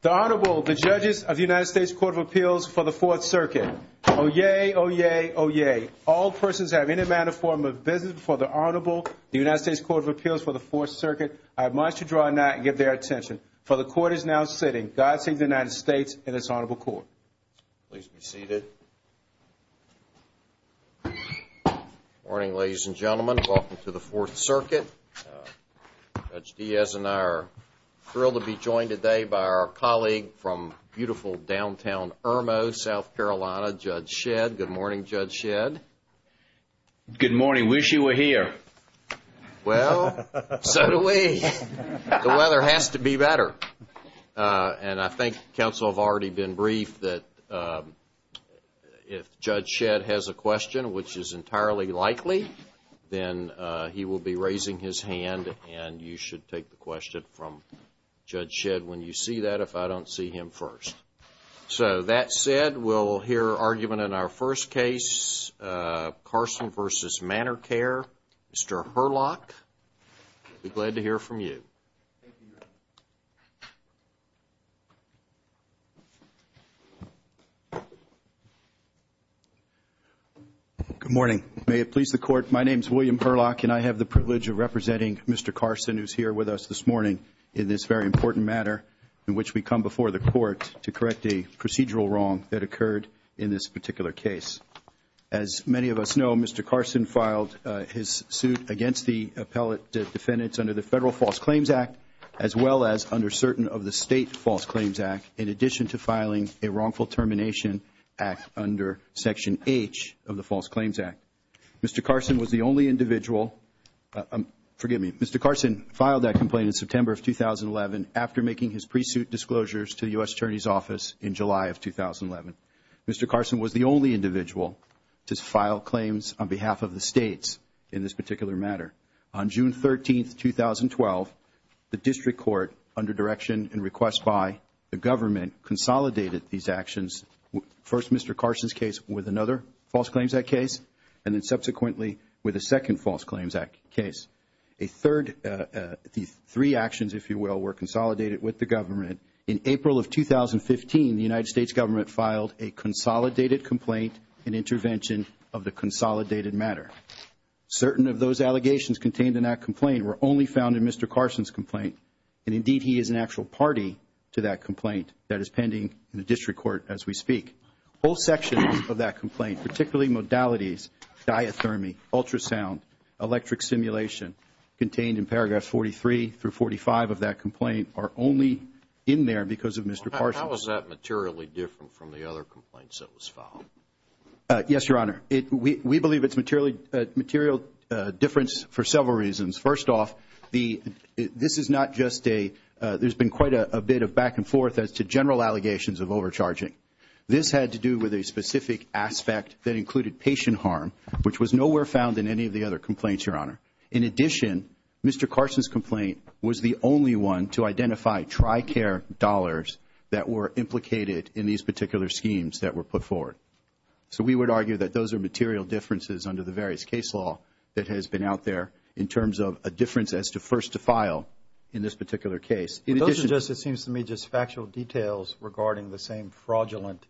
The Honorable, the Judges of the United States Court of Appeals for the Fourth Circuit. Oyez! Oyez! Oyez! All persons who have any manner or form of business before the Honorable, the United States Court of Appeals for the Fourth Circuit, I admonish you to draw a knight and give their attention. For the Court is now sitting. God save the United States and this Honorable Court. Please be seated. Good morning, ladies and gentlemen. Welcome to the Fourth Circuit. Judge Diaz and I are thrilled to be joined today by our colleague from beautiful downtown Irmo, South Carolina, Judge Shedd. Good morning, Judge Shedd. Good morning. Wish you were here. Well, so do we. The weather has to be better. And I think counsel have already been briefed that if Judge Shedd has a question, which is entirely likely, then he will be raising his hand and you should take the question from Judge Shedd when you see that, if I don't see him first. So that said, we'll hear argument in our first case, Carson v. Manor Care, Mr. Herlock. We'll be glad to hear from you. Good morning. May it please the Court, my name is William Herlock and I have the privilege of representing Mr. Carson, who is here with us this morning in this very important matter in which we come before the Court to correct a procedural wrong that occurred in this particular case. As many of us know, Mr. Carson filed his suit against the appellate defendants under the Federal False Claims Act as well as under certain of the State False Claims Act in addition to filing a wrongful termination act under Section H of the False Claims Act. Mr. Carson was the only individual, forgive me, Mr. Carson filed that complaint in September of 2011 after making his pre-suit disclosures to the U.S. Attorney's Office in July of 2011. Mr. Carson was the only individual to file claims on behalf of the States in this particular matter. On June 13, 2012, the District Court, under direction and request by the government, consolidated these actions, first Mr. Carson's case with another False Claims Act case and then subsequently with a second False Claims Act case. A third, the three actions, if you will, were consolidated with the government. In April of 2015, the United States government filed a consolidated complaint and intervention of the consolidated matter. Certain of those allegations contained in that complaint were only found in Mr. Carson's complaint and indeed he is an actual party to that complaint that is pending in the District Court as we speak. Whole sections of that complaint, particularly modalities, diathermy, ultrasound, electric simulation, contained in paragraphs 43 through 45 of that complaint are only in there because of Mr. Carson. How is that materially different from the other complaints that was filed? Yes, Your Honor. We believe it's material difference for several reasons. First off, this is not just a, there's been quite a bit of back and forth as to general allegations of overcharging. This had to do with a specific aspect that included patient harm, which was nowhere found in any of the other complaints, Your Honor. In addition, Mr. Carson's complaint was the only one to identify TRICARE dollars that were implicated in these particular schemes that were put forward. So we would argue that those are material differences under the various case law that has been out there in terms of a difference as to first to file in this particular case. In addition- Those are just, it seems to me, just factual details regarding the same fraudulent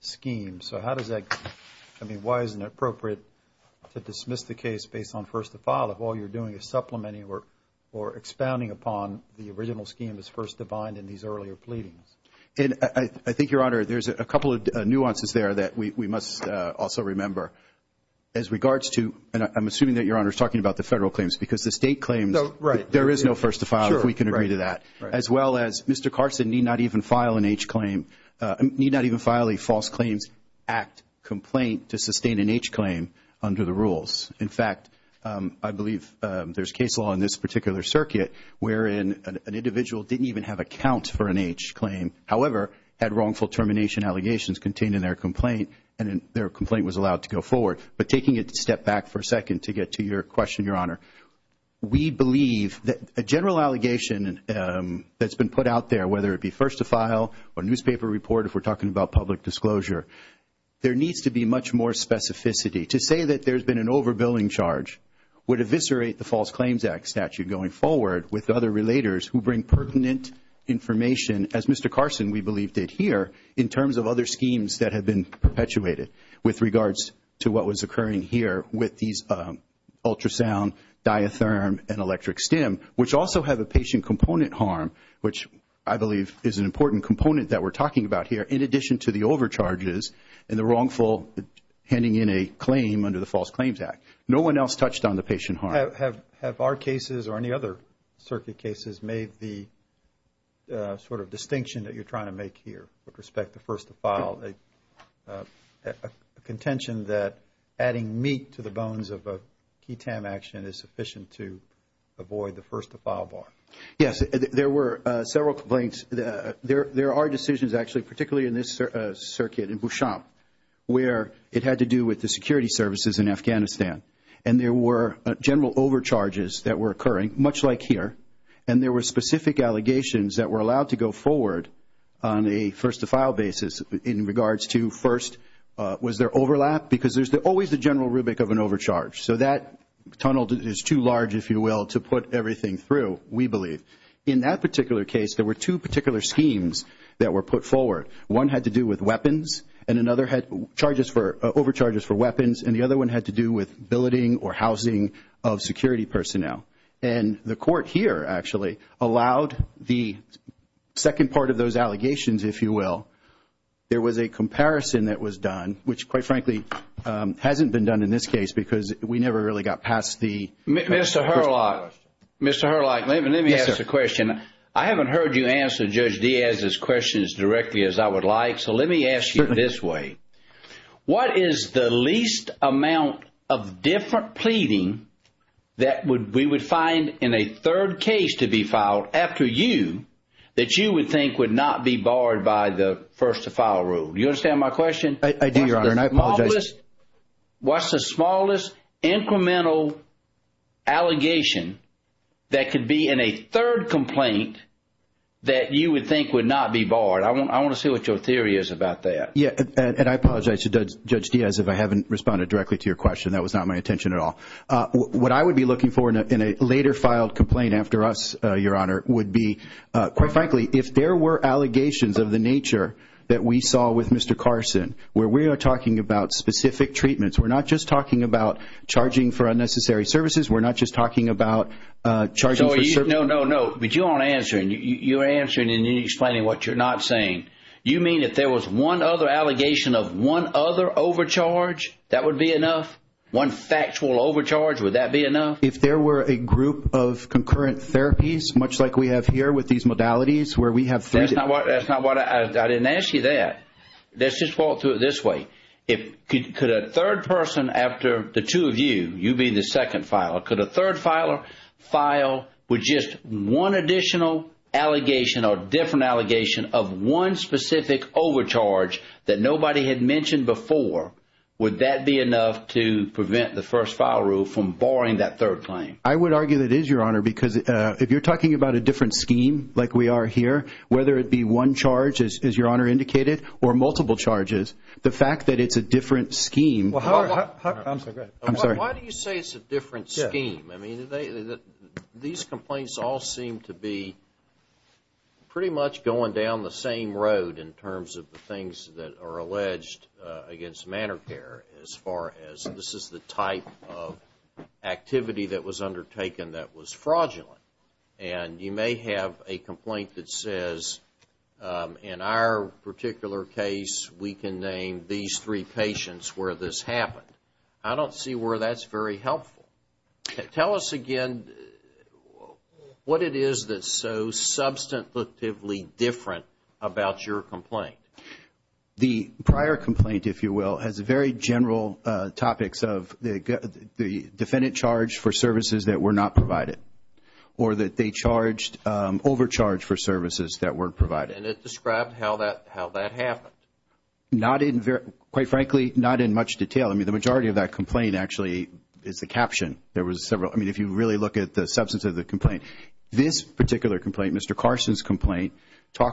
scheme. So how does that, I mean, why isn't it appropriate to dismiss the case based on first to file if all you're doing is supplementing or expounding upon the original scheme as first defined in these earlier pleadings? And I think, Your Honor, there's a couple of nuances there that we must also remember as regards to, and I'm assuming that Your Honor is talking about the federal claims because the state claims- No, right. There is no first to file if we can agree to that. As well as Mr. Carson need not even file an H claim, need not even file a false claims act complaint to sustain an H claim under the rules. In fact, I believe there's case law in this particular circuit wherein an individual didn't even have a count for an H claim, however, had wrongful termination allegations contained in their complaint and their complaint was allowed to go forward. But taking it a step back for a second to get to your question, Your Honor, we believe a general allegation that's been put out there, whether it be first to file or newspaper report if we're talking about public disclosure, there needs to be much more specificity. To say that there's been an overbilling charge would eviscerate the False Claims Act statute going forward with other relators who bring pertinent information as Mr. Carson, we believe, did here in terms of other schemes that have been perpetuated with regards to what was which also have a patient component harm, which I believe is an important component that we're talking about here in addition to the overcharges and the wrongful handing in a claim under the False Claims Act. No one else touched on the patient harm. Have our cases or any other circuit cases made the sort of distinction that you're trying to make here with respect to first to file a contention that adding meat to the bones of a key TAM action is sufficient to avoid the first to file bar? Yes, there were several complaints. There are decisions actually particularly in this circuit in Busham where it had to do with the security services in Afghanistan and there were general overcharges that were occurring much like here and there were specific allegations that were allowed to go forward on a first to file basis in regards to first, was there overlap because there's always the general rubric of an overcharge so that tunnel is too large, if you will, to put everything through, we believe. In that particular case, there were two particular schemes that were put forward. One had to do with weapons and another had charges for overcharges for weapons and the other one had to do with billeting or housing of security personnel and the court here actually allowed the second part of those allegations, if you will. There was a comparison that was done, which quite frankly hasn't been done in this case because we never really got past the first to file question. Mr. Herlock, let me ask you a question. I haven't heard you answer Judge Diaz's questions directly as I would like so let me ask you this way. What is the least amount of different pleading that we would find in a third case to be filed after you that you would think would not be barred by the first to file rule? You understand my question? I do, Your Honor, and I apologize. What's the smallest incremental allegation that could be in a third complaint that you would think would not be barred? I want to see what your theory is about that. I apologize to Judge Diaz if I haven't responded directly to your question. That was not my intention at all. What I would be looking for in a later filed complaint after us, Your Honor, would be quite frankly if there were allegations of the nature that we saw with Mr. Carson, where we are talking about specific treatments. We're not just talking about charging for unnecessary services. We're not just talking about charging for service. No, no, no, but you aren't answering. You're answering and you're explaining what you're not saying. You mean if there was one other allegation of one other overcharge, that would be enough? One factual overcharge, would that be enough? If there were a group of concurrent therapies, much like we have here with these modalities, where we have three... That's not what... I didn't ask you that. Let's just walk through it this way. Could a third person after the two of you, you being the second filer, could a third filer file with just one additional allegation or different allegation of one specific overcharge that nobody had mentioned before? Would that be enough to prevent the first file rule from barring that third claim? I would argue that it is, Your Honor, because if you're talking about a different scheme like we are here, whether it be one charge, as Your Honor indicated, or multiple charges, the fact that it's a different scheme... I'm sorry. Why do you say it's a different scheme? These complaints all seem to be pretty much going down the same road in terms of the things that are alleged against Manor Care as far as this is the type of activity that was undertaken that was fraudulent. You may have a complaint that says, in our particular case, we can name these three patients where this happened. I don't see where that's very helpful. Tell us again what it is that's so substantively different about your complaint. The prior complaint, if you will, has very general topics of the defendant charged for services that were not provided or that they overcharged for services that were provided. It described how that happened. Not in... quite frankly, not in much detail. The majority of that complaint actually is the caption. There was several. If you really look at the substance of the complaint, this particular complaint, Mr. How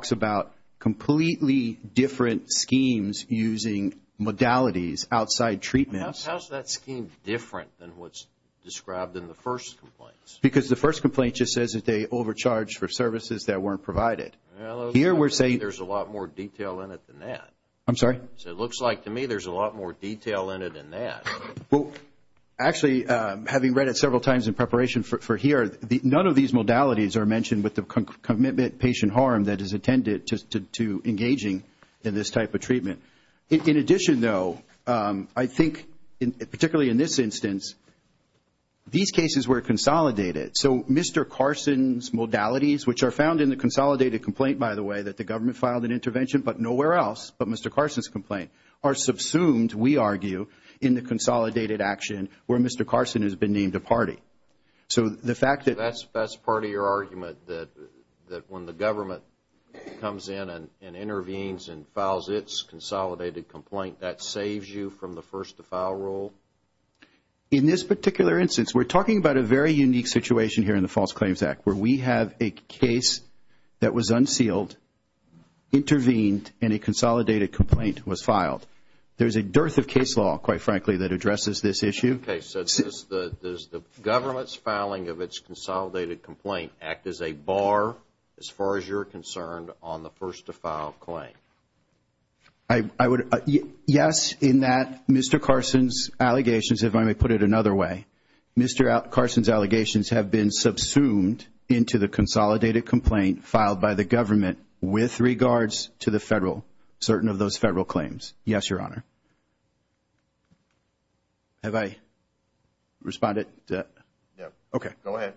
is that scheme different than what's described in the first complaint? Because the first complaint just says that they overcharged for services that weren't provided. Well, it looks like to me there's a lot more detail in it than that. I'm sorry? It looks like to me there's a lot more detail in it than that. Actually, having read it several times in preparation for here, none of these modalities are mentioned with the commitment patient harm that is attended to engaging in this type of treatment. In addition, though, I think particularly in this instance, these cases were consolidated. Mr. Carson's modalities, which are found in the consolidated complaint, by the way, that the government filed an intervention but nowhere else but Mr. Carson's complaint, are subsumed, we argue, in the consolidated action where Mr. Carson has been named a party. So the fact that... That's part of your argument that when the government comes in and intervenes and files its consolidated complaint, that saves you from the first to file rule? In this particular instance, we're talking about a very unique situation here in the False Claims Act where we have a case that was unsealed, intervened, and a consolidated complaint was filed. There's a dearth of case law, quite frankly, that addresses this issue. In this particular case, does the government's filing of its consolidated complaint act as a bar, as far as you're concerned, on the first to file claim? Yes, in that Mr. Carson's allegations, if I may put it another way, Mr. Carson's allegations have been subsumed into the consolidated complaint filed by the government with regards to the federal, certain of those federal claims. Yes, Your Honor. Have I responded to that? No. Okay. Go ahead.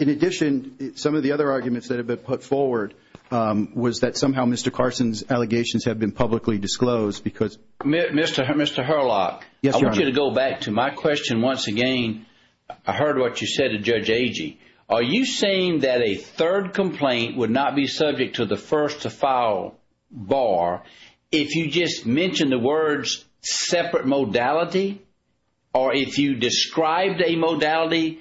In addition, some of the other arguments that have been put forward was that somehow Mr. Carson's allegations have been publicly disclosed because... Mr. Herlock. Yes, Your Honor. I want you to go back to my question once again. I heard what you said to Judge Agee. Are you saying that a third complaint would not be subject to the first to file bar if you just mentioned the words separate modality or if you described a modality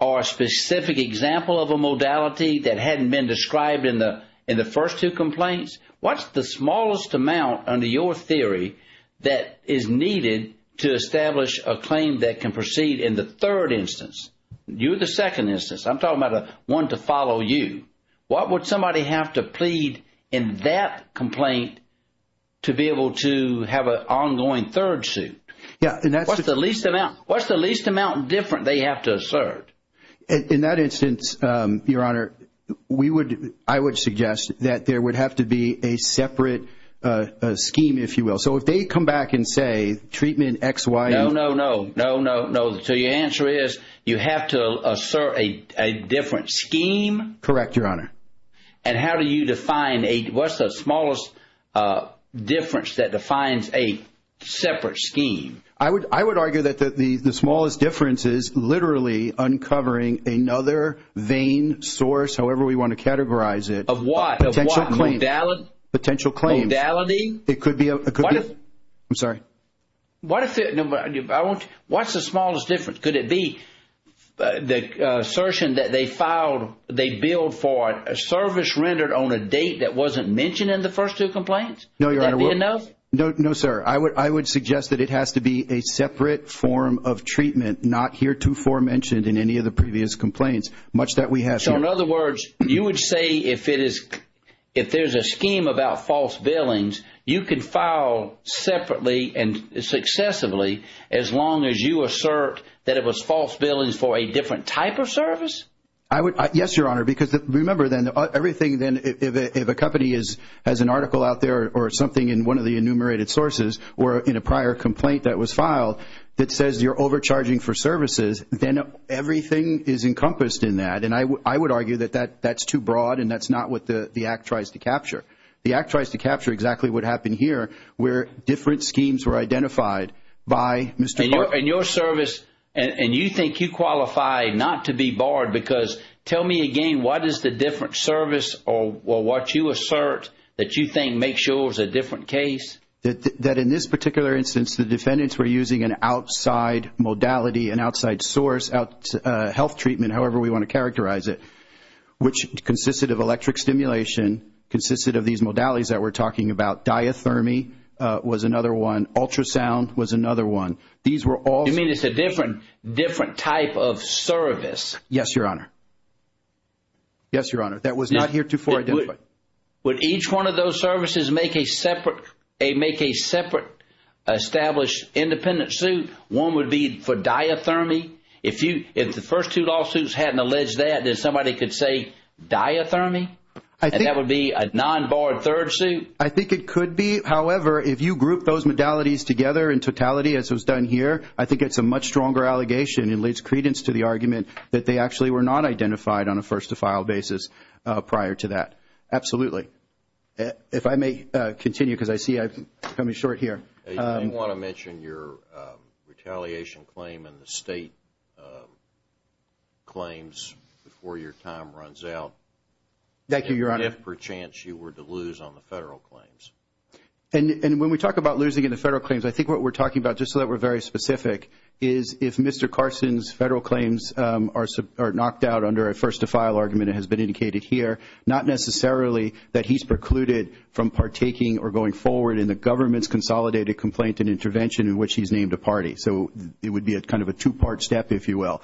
or a specific example of a modality that hadn't been described in the first two complaints? What's the smallest amount under your theory that is needed to establish a claim that can proceed in the third instance? You're the second instance. I'm talking about one to follow you. What would somebody have to plead in that complaint to be able to have an ongoing third suit? What's the least amount different they have to assert? In that instance, Your Honor, I would suggest that there would have to be a separate scheme, if you will. So if they come back and say treatment X, Y, and... No, no, no. No, no, no. So your answer is you have to assert a different scheme? Correct, Your Honor. And how do you define a... What's the smallest difference that defines a separate scheme? I would argue that the smallest difference is literally uncovering another vain source, however we want to categorize it. Of what? Potential claim. Of what claim? Potential claim. Modality? It could be... I'm sorry. What if it... No, but I want... What's the smallest difference? Could it be the assertion that they filed, they billed for a service rendered on a date that wasn't mentioned in the first two complaints? No, Your Honor. Would that be enough? No, sir. I would suggest that it has to be a separate form of treatment, not heretofore mentioned in any of the previous complaints, much that we have here. So in other words, you would say if there's a scheme about false billings, you could file separately and successively as long as you assert that it was false billings for a different type of service? I would... Yes, Your Honor. Because remember then, everything then, if a company has an article out there or something in one of the enumerated sources or in a prior complaint that was filed that says you're overcharging for services, then everything is encompassed in that. And I would argue that that's too broad and that's not what the Act tries to capture. The Act tries to capture exactly what happened here where different schemes were identified by Mr. Clark. And your service, and you think you qualify not to be barred because, tell me again, what is the different service or what you assert that you think makes yours a different case? That in this particular instance, the defendants were using an outside modality, an outside source, health treatment, however we want to characterize it, which consisted of electric stimulation, consisted of these modalities that we're talking about, diathermy was another one, ultrasound was another one. These were all... You mean it's a different type of service? Yes, Your Honor. Yes, Your Honor. That was not heretofore identified. Would each one of those services make a separate established independent suit? One would be for diathermy? If the first two lawsuits hadn't alleged that, then somebody could say diathermy? I think... And that would be a non-barred third suit? I think it could be. However, if you group those modalities together in totality as was done here, I think it's a much stronger allegation and leads credence to the argument that they actually were not identified on a first-to-file basis prior to that, absolutely. If I may continue because I see I'm coming short here. I do want to mention your retaliation claim and the state claims before your time runs out. Thank you, Your Honor. And if perchance you were to lose on the federal claims. And when we talk about losing in the federal claims, I think what we're talking about, just so that we're very specific, is if Mr. Carson's federal claims are knocked out under a first-to-file argument, it has been indicated here, not necessarily that he's precluded from partaking or going forward in the government's consolidated complaint and intervention in which he's named a party. So it would be a kind of a two-part step, if you will.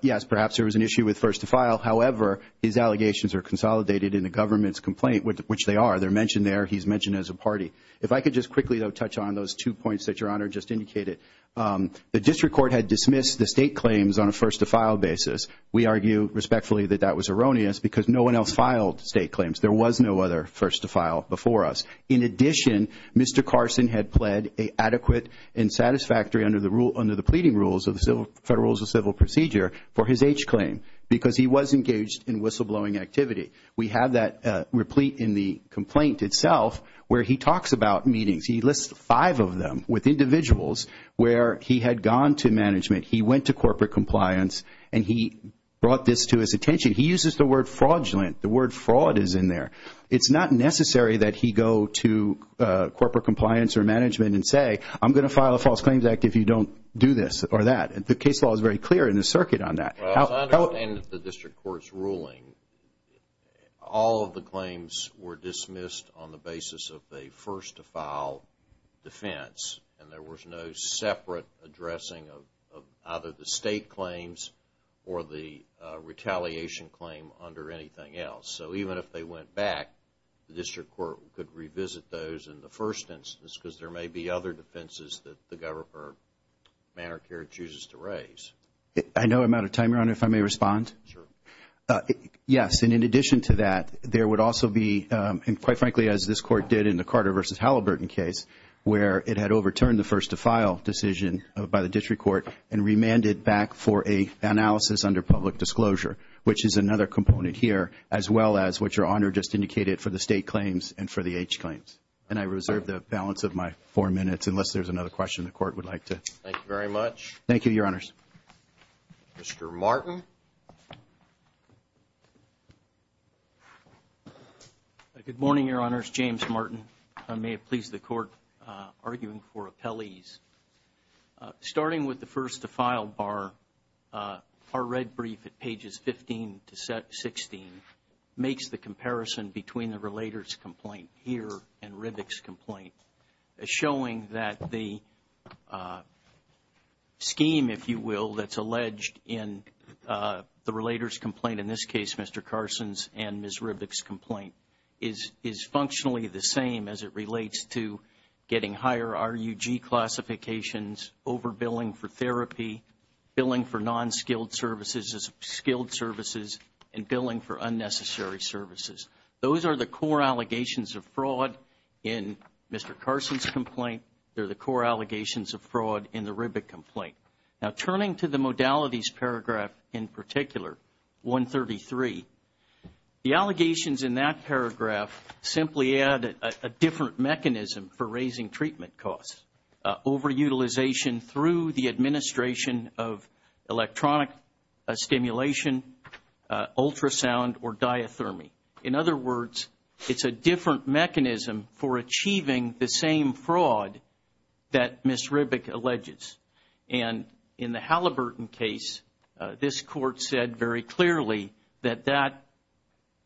Yes, perhaps there was an issue with first-to-file, however, his allegations are consolidated in the government's complaint, which they are. They're mentioned there. He's mentioned as a party. If I could just quickly, though, touch on those two points that Your Honor just indicated. The district court had dismissed the state claims on a first-to-file basis. We argue respectfully that that was erroneous because no one else filed state claims. There was no other first-to-file before us. In addition, Mr. Carson had pled adequate and satisfactory under the pleading rules of the Federal Rules of Civil Procedure for his H claim because he was engaged in whistleblowing activity. We have that replete in the complaint itself where he talks about meetings. He lists five of them with individuals where he had gone to management. He went to corporate compliance and he brought this to his attention. He uses the word fraudulent. The word fraud is in there. It's not necessary that he go to corporate compliance or management and say, I'm going to file a false claims act if you don't do this or that. The case law is very clear in the circuit on that. As I understand it, the district court's ruling, all of the claims were dismissed on the basis of a first-to-file defense and there was no separate addressing of either the state claims or the retaliation claim under anything else. So even if they went back, the district court could revisit those in the first instance because there may be other defenses that the government or Medicare chooses to raise. I know I'm out of time, Your Honor, if I may respond. Sure. Yes, and in addition to that, there would also be and quite frankly as this court did in the Carter v. Halliburton case where it had overturned the first-to-file decision by the district court and remanded back for an analysis under public disclosure, which is another component here, as well as what Your Honor just indicated for the state claims and for the H claims. And I reserve the balance of my four minutes unless there's another question the court would like to. Thank you very much. Thank you, Your Honors. Mr. Martin. Good morning, Your Honors. James Martin. I may have pleased the court arguing for appellees. Starting with the first-to-file bar, our red brief at pages 15 to 16 makes the comparison between the relator's complaint here and Rivick's complaint, showing that the scheme, if you will, that's alleged in the relator's complaint, in this case Mr. Carson's and Ms. Rivick's as it relates to getting higher RUG classifications, overbilling for therapy, billing for non-skilled services as skilled services, and billing for unnecessary services. Those are the core allegations of fraud in Mr. Carson's complaint. They're the core allegations of fraud in the Rivick complaint. Now turning to the modalities paragraph in particular, 133, the allegations in that paragraph simply add a different mechanism for raising treatment costs, overutilization through the administration of electronic stimulation, ultrasound, or diathermy. In other words, it's a different mechanism for achieving the same fraud that Ms. Rivick alleges. And in the Halliburton case, this court said very clearly that that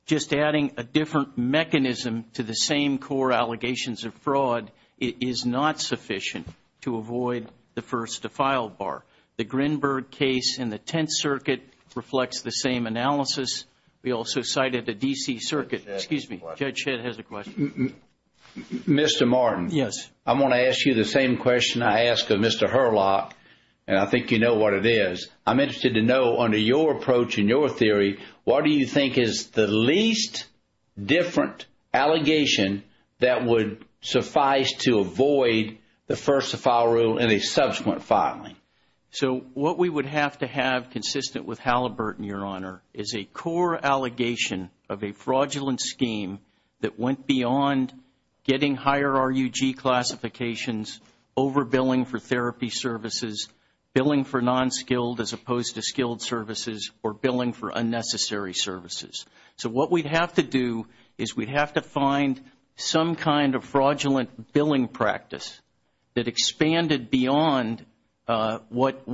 just adding a different mechanism to the same core allegations of fraud is not sufficient to avoid the first defile bar. The Grinberg case in the Tenth Circuit reflects the same analysis. We also cited the D.C. Circuit. Excuse me. Judge Shedd has a question. Mr. Martin. Yes. I want to ask you the same question I asked of Mr. Herlock, and I think you know what it is. I'm interested to know under your approach and your theory, what do you think is the least different allegation that would suffice to avoid the first defile rule in a subsequent filing? So what we would have to have consistent with Halliburton, Your Honor, is a core allegation of a fraudulent scheme that went beyond getting higher RUG classifications, overbilling for therapy services, billing for non-skilled as opposed to skilled services, or billing for unnecessary services. So what we'd have to do is we'd have to find some kind of fraudulent billing practice that expanded beyond what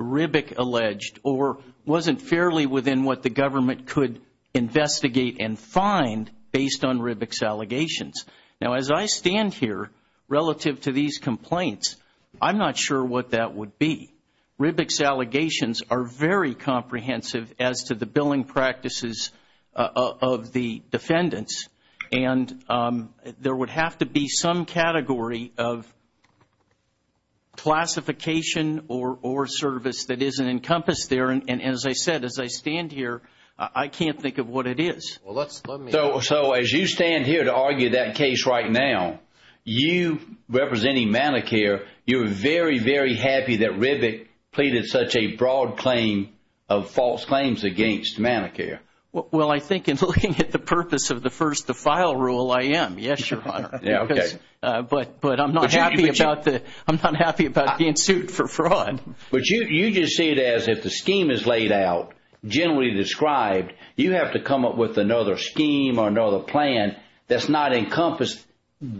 Ribbick alleged or wasn't fairly within what the government could investigate and find based on Ribbick's allegations. Now as I stand here, relative to these complaints, I'm not sure what that would be. Ribbick's allegations are very comprehensive as to the billing practices of the defendants, and there would have to be some category of classification or service that isn't encompassed there. And as I said, as I stand here, I can't think of what it is. So as you stand here to argue that case right now, you representing Medicare, you're very, very happy that Ribbick pleaded such a broad claim of false claims against Medicare. Well, I think in looking at the purpose of the first to file rule, I am, yes, Your Honor. But I'm not happy about being sued for fraud. But you just see it as if the scheme is laid out, generally described, you have to come up with another scheme or another plan that's not encompassed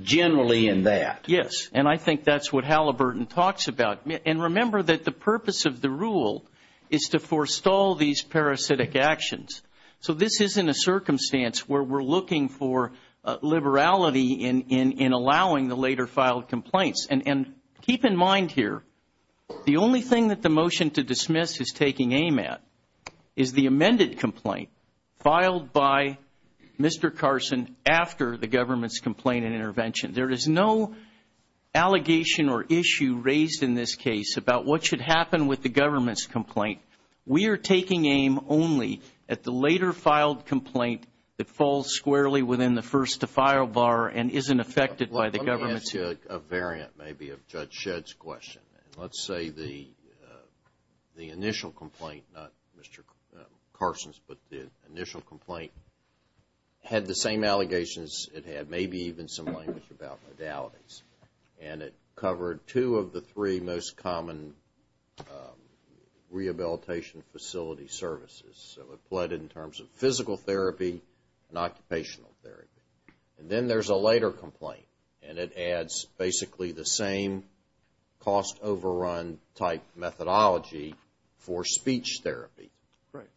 generally in that. Yes. And I think that's what Halliburton talks about. And remember that the purpose of the rule is to forestall these parasitic actions. So this isn't a circumstance where we're looking for liberality in allowing the later filed complaints. And keep in mind here, the only thing that the motion to dismiss is taking aim at is the amended complaint filed by Mr. Carson after the government's complaint and intervention. There is no allegation or issue raised in this case about what should happen with the government's complaint. We are taking aim only at the later filed complaint that falls squarely within the first to file bar and isn't affected by the government's. Let me ask you a variant maybe of Judge Shedd's question. Let's say the initial complaint, not Mr. Carson's, but the initial complaint had the same allegations it had maybe even some language about modalities. And it covered two of the three most common rehabilitation facility services. So it plotted in terms of physical therapy and occupational therapy. And then there's a later complaint and it adds basically the same cost overrun type methodology for speech therapy.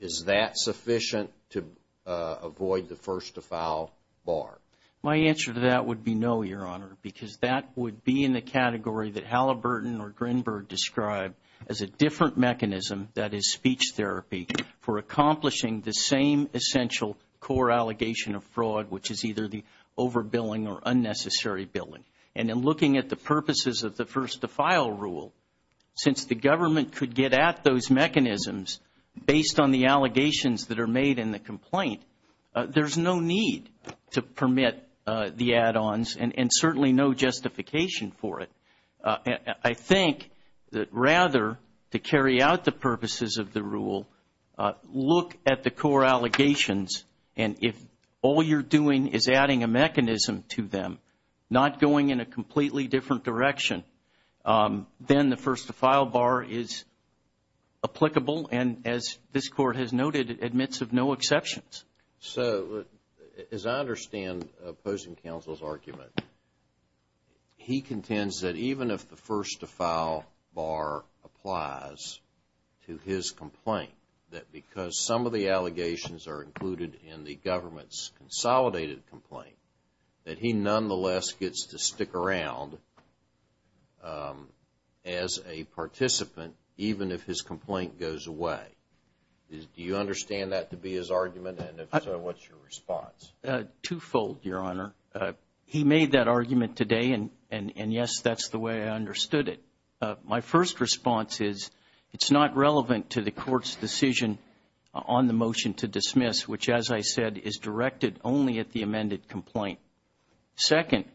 Is that sufficient to avoid the first to file bar? My answer to that would be no, Your Honor, because that would be in the category that Halliburton or Grinberg described as a different mechanism that is speech therapy for accomplishing the same essential core allegation of fraud, which is either the over billing or unnecessary billing. And in looking at the purposes of the first to file rule, since the government could get at those mechanisms based on the allegations that are made in the complaint, there's no need to permit the add-ons and certainly no justification for it. I think that rather to carry out the purposes of the rule, look at the core allegations and if all you're doing is adding a mechanism to them, not going in a completely different direction, then the first to file bar is applicable and as this Court has noted, admits of no exceptions. So as I understand opposing counsel's argument, he contends that even if the first to file bar applies to his complaint, that because some of the allegations are included in the as a participant, even if his complaint goes away. Do you understand that to be his argument and if so, what's your response? Two-fold, Your Honor. He made that argument today and yes, that's the way I understood it. My first response is it's not relevant to the Court's decision on the motion to dismiss, which as I said, is directed only at the amended complaint. Second,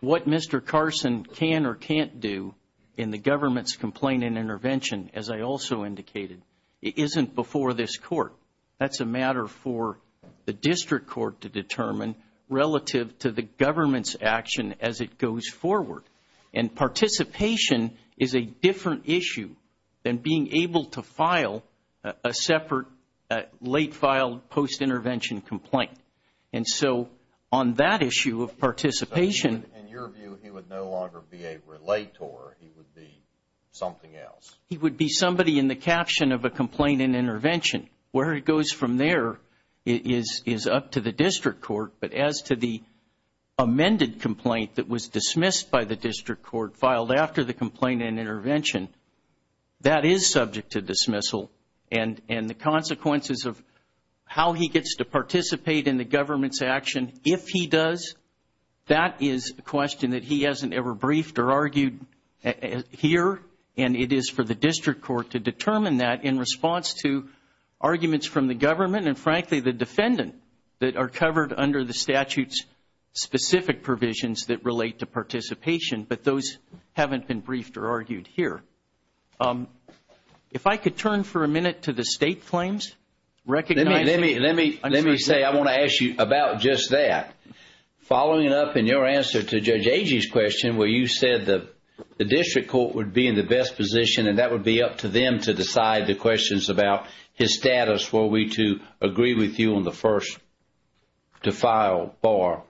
what Mr. Carson can or can't do in the government's complaint and intervention, as I also indicated, isn't before this Court. That's a matter for the District Court to determine relative to the government's action as it goes forward and participation is a different issue than being able to file a separate late filed post-intervention complaint. And so on that issue of participation In your view, he would no longer be a relator, he would be something else. He would be somebody in the caption of a complaint and intervention. Where it goes from there is up to the District Court, but as to the amended complaint that was dismissed by the District Court, filed after the complaint and intervention, that is subject to dismissal and the consequences of how he gets to participate in the government's action if he does, that is a question that he hasn't ever briefed or argued here and it is for the District Court to determine that in response to arguments from the government and frankly, the defendant that are covered under the statute's specific provisions that relate to participation, but those haven't been briefed or argued here. If I could turn for a minute to the state claims. Let me say, I want to ask you about just that. Following up in your answer to Judge Agee's question where you said the District Court would be in the best position and that would be up to them to decide the questions about his status were we to agree with you on the first to file bar.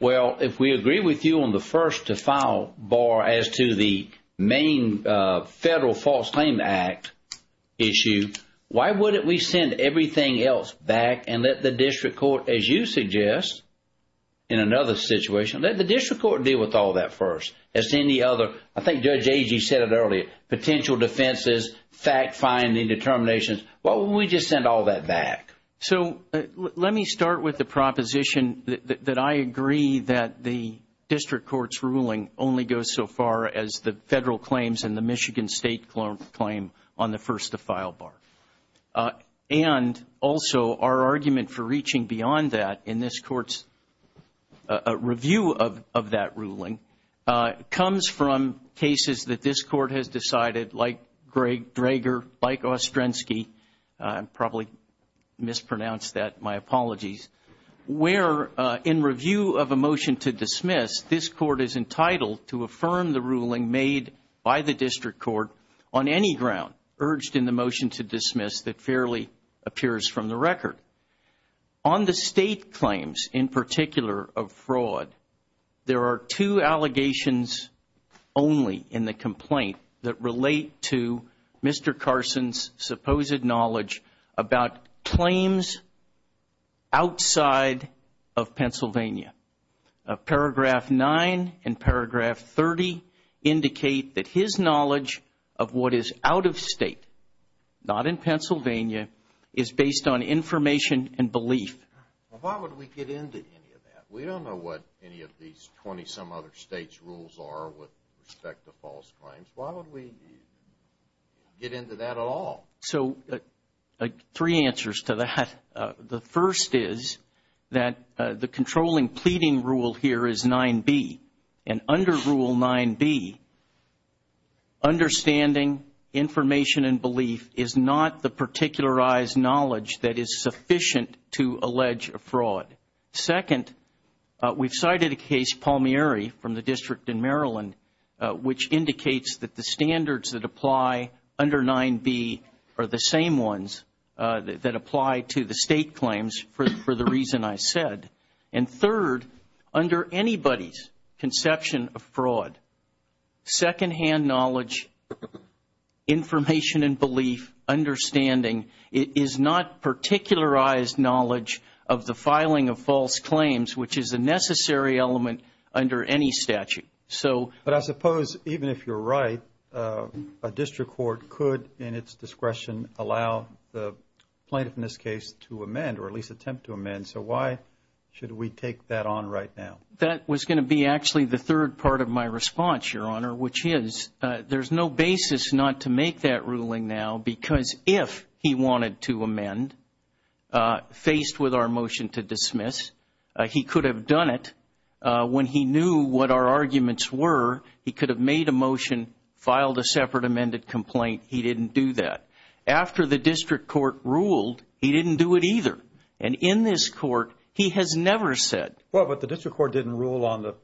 Well, if we agree with you on the first to file bar as to the main Federal False Claim Act issue, why wouldn't we send everything else back and let the District Court, as you suggest, in another situation, let the District Court deal with all that first as to any other, I think Judge Agee said it earlier, potential defenses, fact-finding determinations. Why wouldn't we just send all that back? So let me start with the proposition that I agree that the District Court's ruling only goes so far as the Federal claims and the Michigan State claim on the first to file bar. And also, our argument for reaching beyond that in this Court's review of that ruling comes from cases that this Court has decided, like Greg Draeger, like Ostrensky, probably mispronounced that, my apologies, where in review of a motion to dismiss, this Court is entitled to affirm the ruling made by the District Court on any ground urged in the motion to dismiss that fairly appears from the record. On the State claims, in particular, of fraud, there are two allegations only in the complaint that relate to Mr. Carson's supposed knowledge about claims outside of Pennsylvania. Paragraph 9 and paragraph 30 indicate that his knowledge of what is out of State, not in Pennsylvania, is based on information and belief. Well, why would we get into any of that? We don't know what any of these 20-some other States' rules are with respect to false claims. Why would we get into that at all? So, three answers to that. The first is that the controlling pleading rule here is 9B. And under Rule 9B, understanding, information, and belief is not the particularized knowledge that is sufficient to allege a fraud. Second, we've cited a case, Palmieri, from the District in Maryland, which indicates that the standards that apply under 9B are the same ones that apply to the State claims for the reason I said. And third, under anybody's conception of fraud, second-hand knowledge, information and belief, understanding is not particularized knowledge of the filing of false claims, which is a necessary element under any statute. But I suppose, even if you're right, a district court could, in its discretion, allow the plaintiff, in this case, to amend, or at least attempt to amend. So why should we take that on right now? That was going to be actually the third part of my response, Your Honor, which is there's no basis not to make that ruling now, because if he wanted to amend, faced with our motion to dismiss, he could have done it when he knew what our arguments were. He could have made a motion, filed a separate amended complaint. He didn't do that. After the district court ruled, he didn't do it either. And in this court, he has never said. Well, but the district court didn't rule on the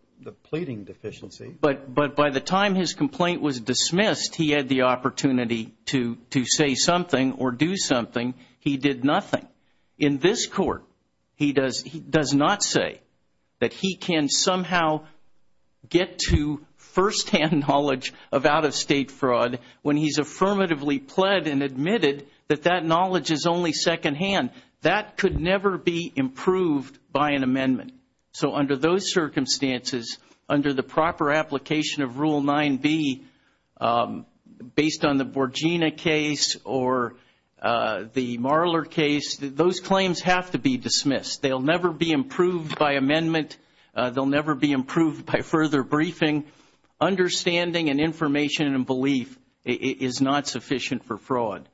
pleading deficiency. But by the time his complaint was dismissed, he had the opportunity to say something or do something. He did nothing. In this court, he does not say that he can somehow get to first-hand knowledge of out-of-state fraud when he's affirmatively pled and admitted that that knowledge is only second-hand. That could never be improved by an amendment. So under those circumstances, under the proper application of Rule 9B, based on the Borgina case or the Marler case, those claims have to be dismissed. They'll never be improved by amendment. They'll never be improved by further briefing. Understanding and information and belief is not sufficient for fraud.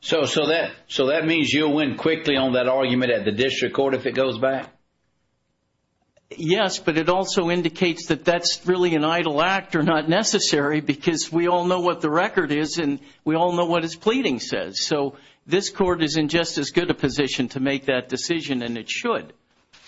So that means you'll win quickly on that argument at the district court if it goes back? Yes, but it also indicates that that's really an idle act or not necessary because we all know what the record is and we all know what his pleading says. So this court is in just as good a position to make that decision, and it should.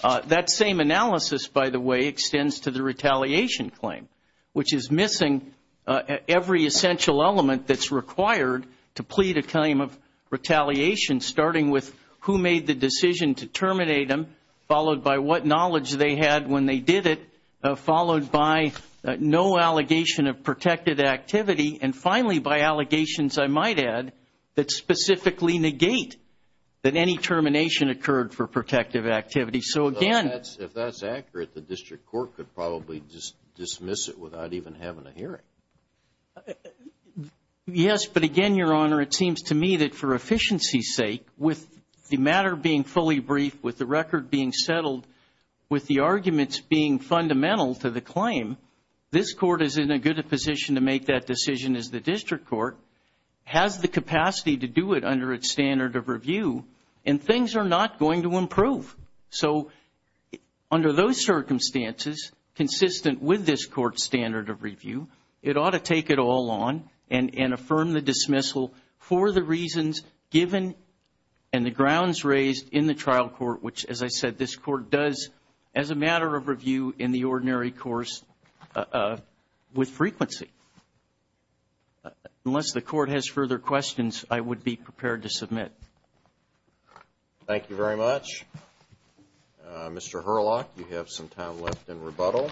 That same analysis, by the way, extends to the retaliation claim, which is missing every essential element that's required to plead a claim of retaliation, starting with who made the decision to terminate him, followed by what knowledge they had when they did it, followed by no allegation of protected activity, and finally, by allegations, I might add, that specifically negate that any termination occurred for protective activity. So again... Well, if that's accurate, the district court could probably dismiss it without even having heard a hearing. Yes, but again, Your Honor, it seems to me that for efficiency's sake, with the matter being fully briefed, with the record being settled, with the arguments being fundamental to the claim, this court is in a good position to make that decision as the district court, has the capacity to do it under its standard of review, and things are not going to improve. So under those circumstances, consistent with this court's standard of review, it ought to take it all on and affirm the dismissal for the reasons given and the grounds raised in the trial court, which, as I said, this court does as a matter of review in the ordinary course with frequency. Unless the court has further questions, I would be prepared to submit. Thank you very much. Mr. Herlock, you have some time left in rebuttal.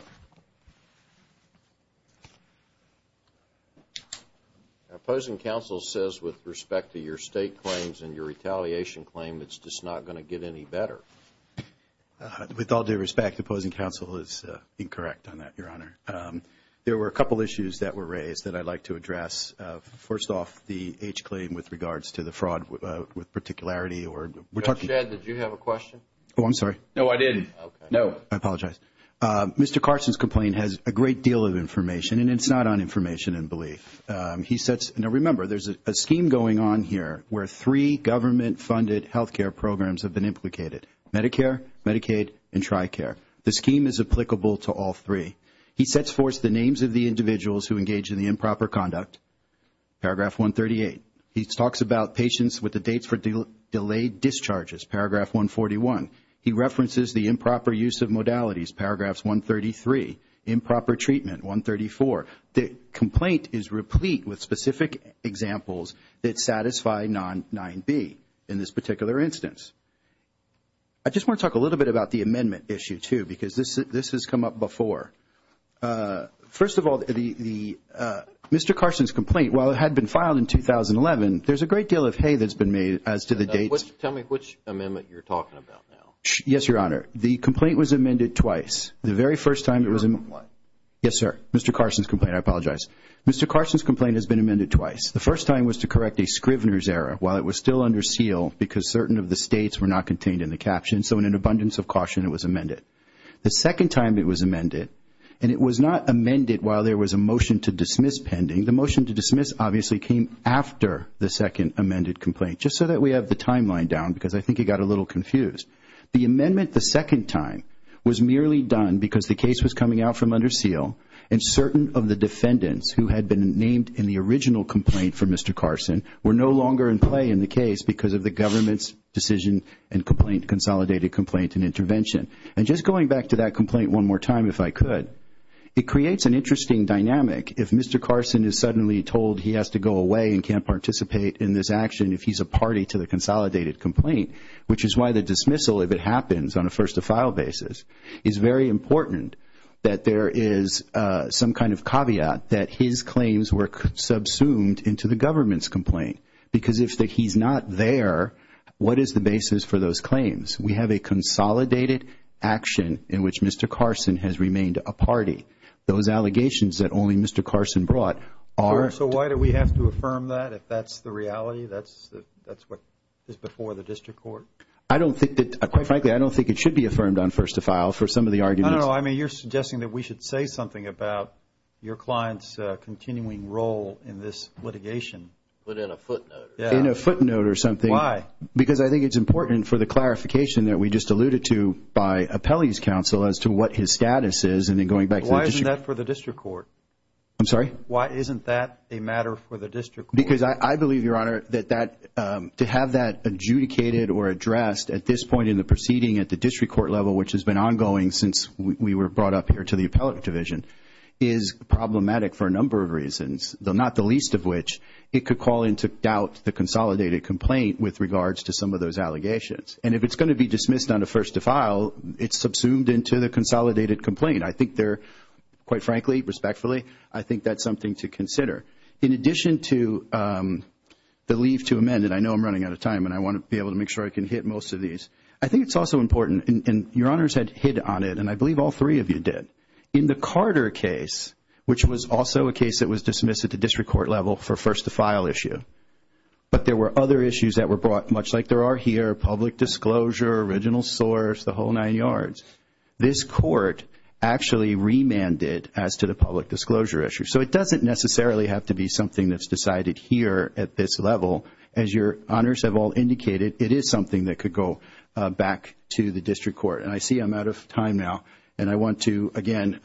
Opposing counsel says with respect to your state claims and your retaliation claim, it's just not going to get any better. With all due respect, opposing counsel is incorrect on that, Your Honor. There were a couple issues that were raised that I'd like to address. First off, the H claim with regards to the fraud with particularity or we're talking Judge Shedd, did you have a question? Oh, I'm sorry. No, I didn't. Okay. No. I apologize. Mr. Carson's complaint has a great deal of information, and it's not on information and belief. He sets, now remember, there's a scheme going on here where three government-funded health care programs have been implicated, Medicare, Medicaid, and TRICARE. The scheme is applicable to all three. He sets forth the names of the individuals who engage in the improper conduct, paragraph 138. He talks about patients with the dates for delayed discharges, paragraph 141. He references the improper use of modalities, paragraphs 133, improper treatment, 134. The complaint is replete with specific examples that satisfy 9b in this particular instance. I just want to talk a little bit about the amendment issue, too, because this has come up before. First of all, Mr. Carson's complaint, while it had been filed in 2011, there's a great deal of hay that's been made as to the dates. Tell me which amendment you're talking about now. Yes, Your Honor. The complaint was amended twice. The very first time it was amended. What? Yes, sir. Mr. Carson's complaint. I apologize. Mr. Carson's complaint has been amended twice. The first time was to correct a Scrivener's error while it was still under seal because certain of the states were not contained in the caption. So in an abundance of caution, it was amended. The second time it was amended, and it was not amended while there was a motion to dismiss pending. The motion to dismiss obviously came after the second amended complaint, just so that we have the timeline down because I think it got a little confused. The amendment the second time was merely done because the case was coming out from under seal and certain of the defendants who had been named in the original complaint for Mr. Carson were no longer in play in the case because of the government's decision and consolidated complaint and intervention. And just going back to that complaint one more time if I could, it creates an interesting dynamic if Mr. Carson is suddenly told he has to go away and can't participate in this action if he's a party to the consolidated complaint, which is why the dismissal, if it happens on a first to file basis, is very important that there is some kind of caveat that his claims were subsumed into the government's complaint. Because if he's not there, what is the basis for those claims? We have a consolidated action in which Mr. Carson has remained a party. Those allegations that only Mr. Carson brought are. So why do we have to affirm that if that's the reality, that's what is before the district court? I don't think that, quite frankly, I don't think it should be affirmed on first to file for some of the arguments. No, no, no. I mean you're suggesting that we should say something about your client's continuing role in this litigation. But in a footnote. Yeah. In a footnote or something. Why? Because I think it's important for the clarification that we just alluded to by appellee's counsel as to what his status is and then going back to the district court. Why isn't that for the district court? I'm sorry? Why isn't that a matter for the district court? Because I believe, Your Honor, that to have that adjudicated or addressed at this point in the proceeding at the district court level, which has been ongoing since we were brought up here to the appellate division, is problematic for a number of reasons, though not the least of which it could call into doubt the consolidated complaint with regards to some of those allegations. And if it's going to be dismissed on a first to file, it's subsumed into the consolidated complaint. I think there, quite frankly, respectfully, I think that's something to consider. In addition to the leave to amend, and I know I'm running out of time and I want to be able to make sure I can hit most of these, I think it's also important, and Your Honors had hit on it, and I believe all three of you did. In the Carter case, which was also a case that was dismissed at the district court level for first to file issue, but there were other issues that were brought, much like there are here, public disclosure, original source, the whole nine yards. This court actually remanded as to the public disclosure issue. So it doesn't necessarily have to be something that's decided here at this level. As Your Honors have all indicated, it is something that could go back to the district court. And I see I'm out of time now, and I want to, again,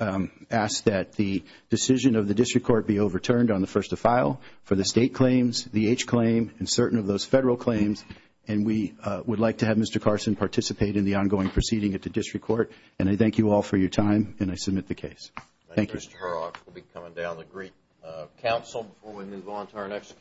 ask that the decision of the district court be overturned on the first to file for the state claims, the H claim, and certain of those federal claims. And we would like to have Mr. Carson participate in the ongoing proceeding at the district court. And I thank you all for your time, and I submit the case. Thank you. Thank you, Mr. Horrocks. We'll be coming down to greet counsel before we move on to our next case.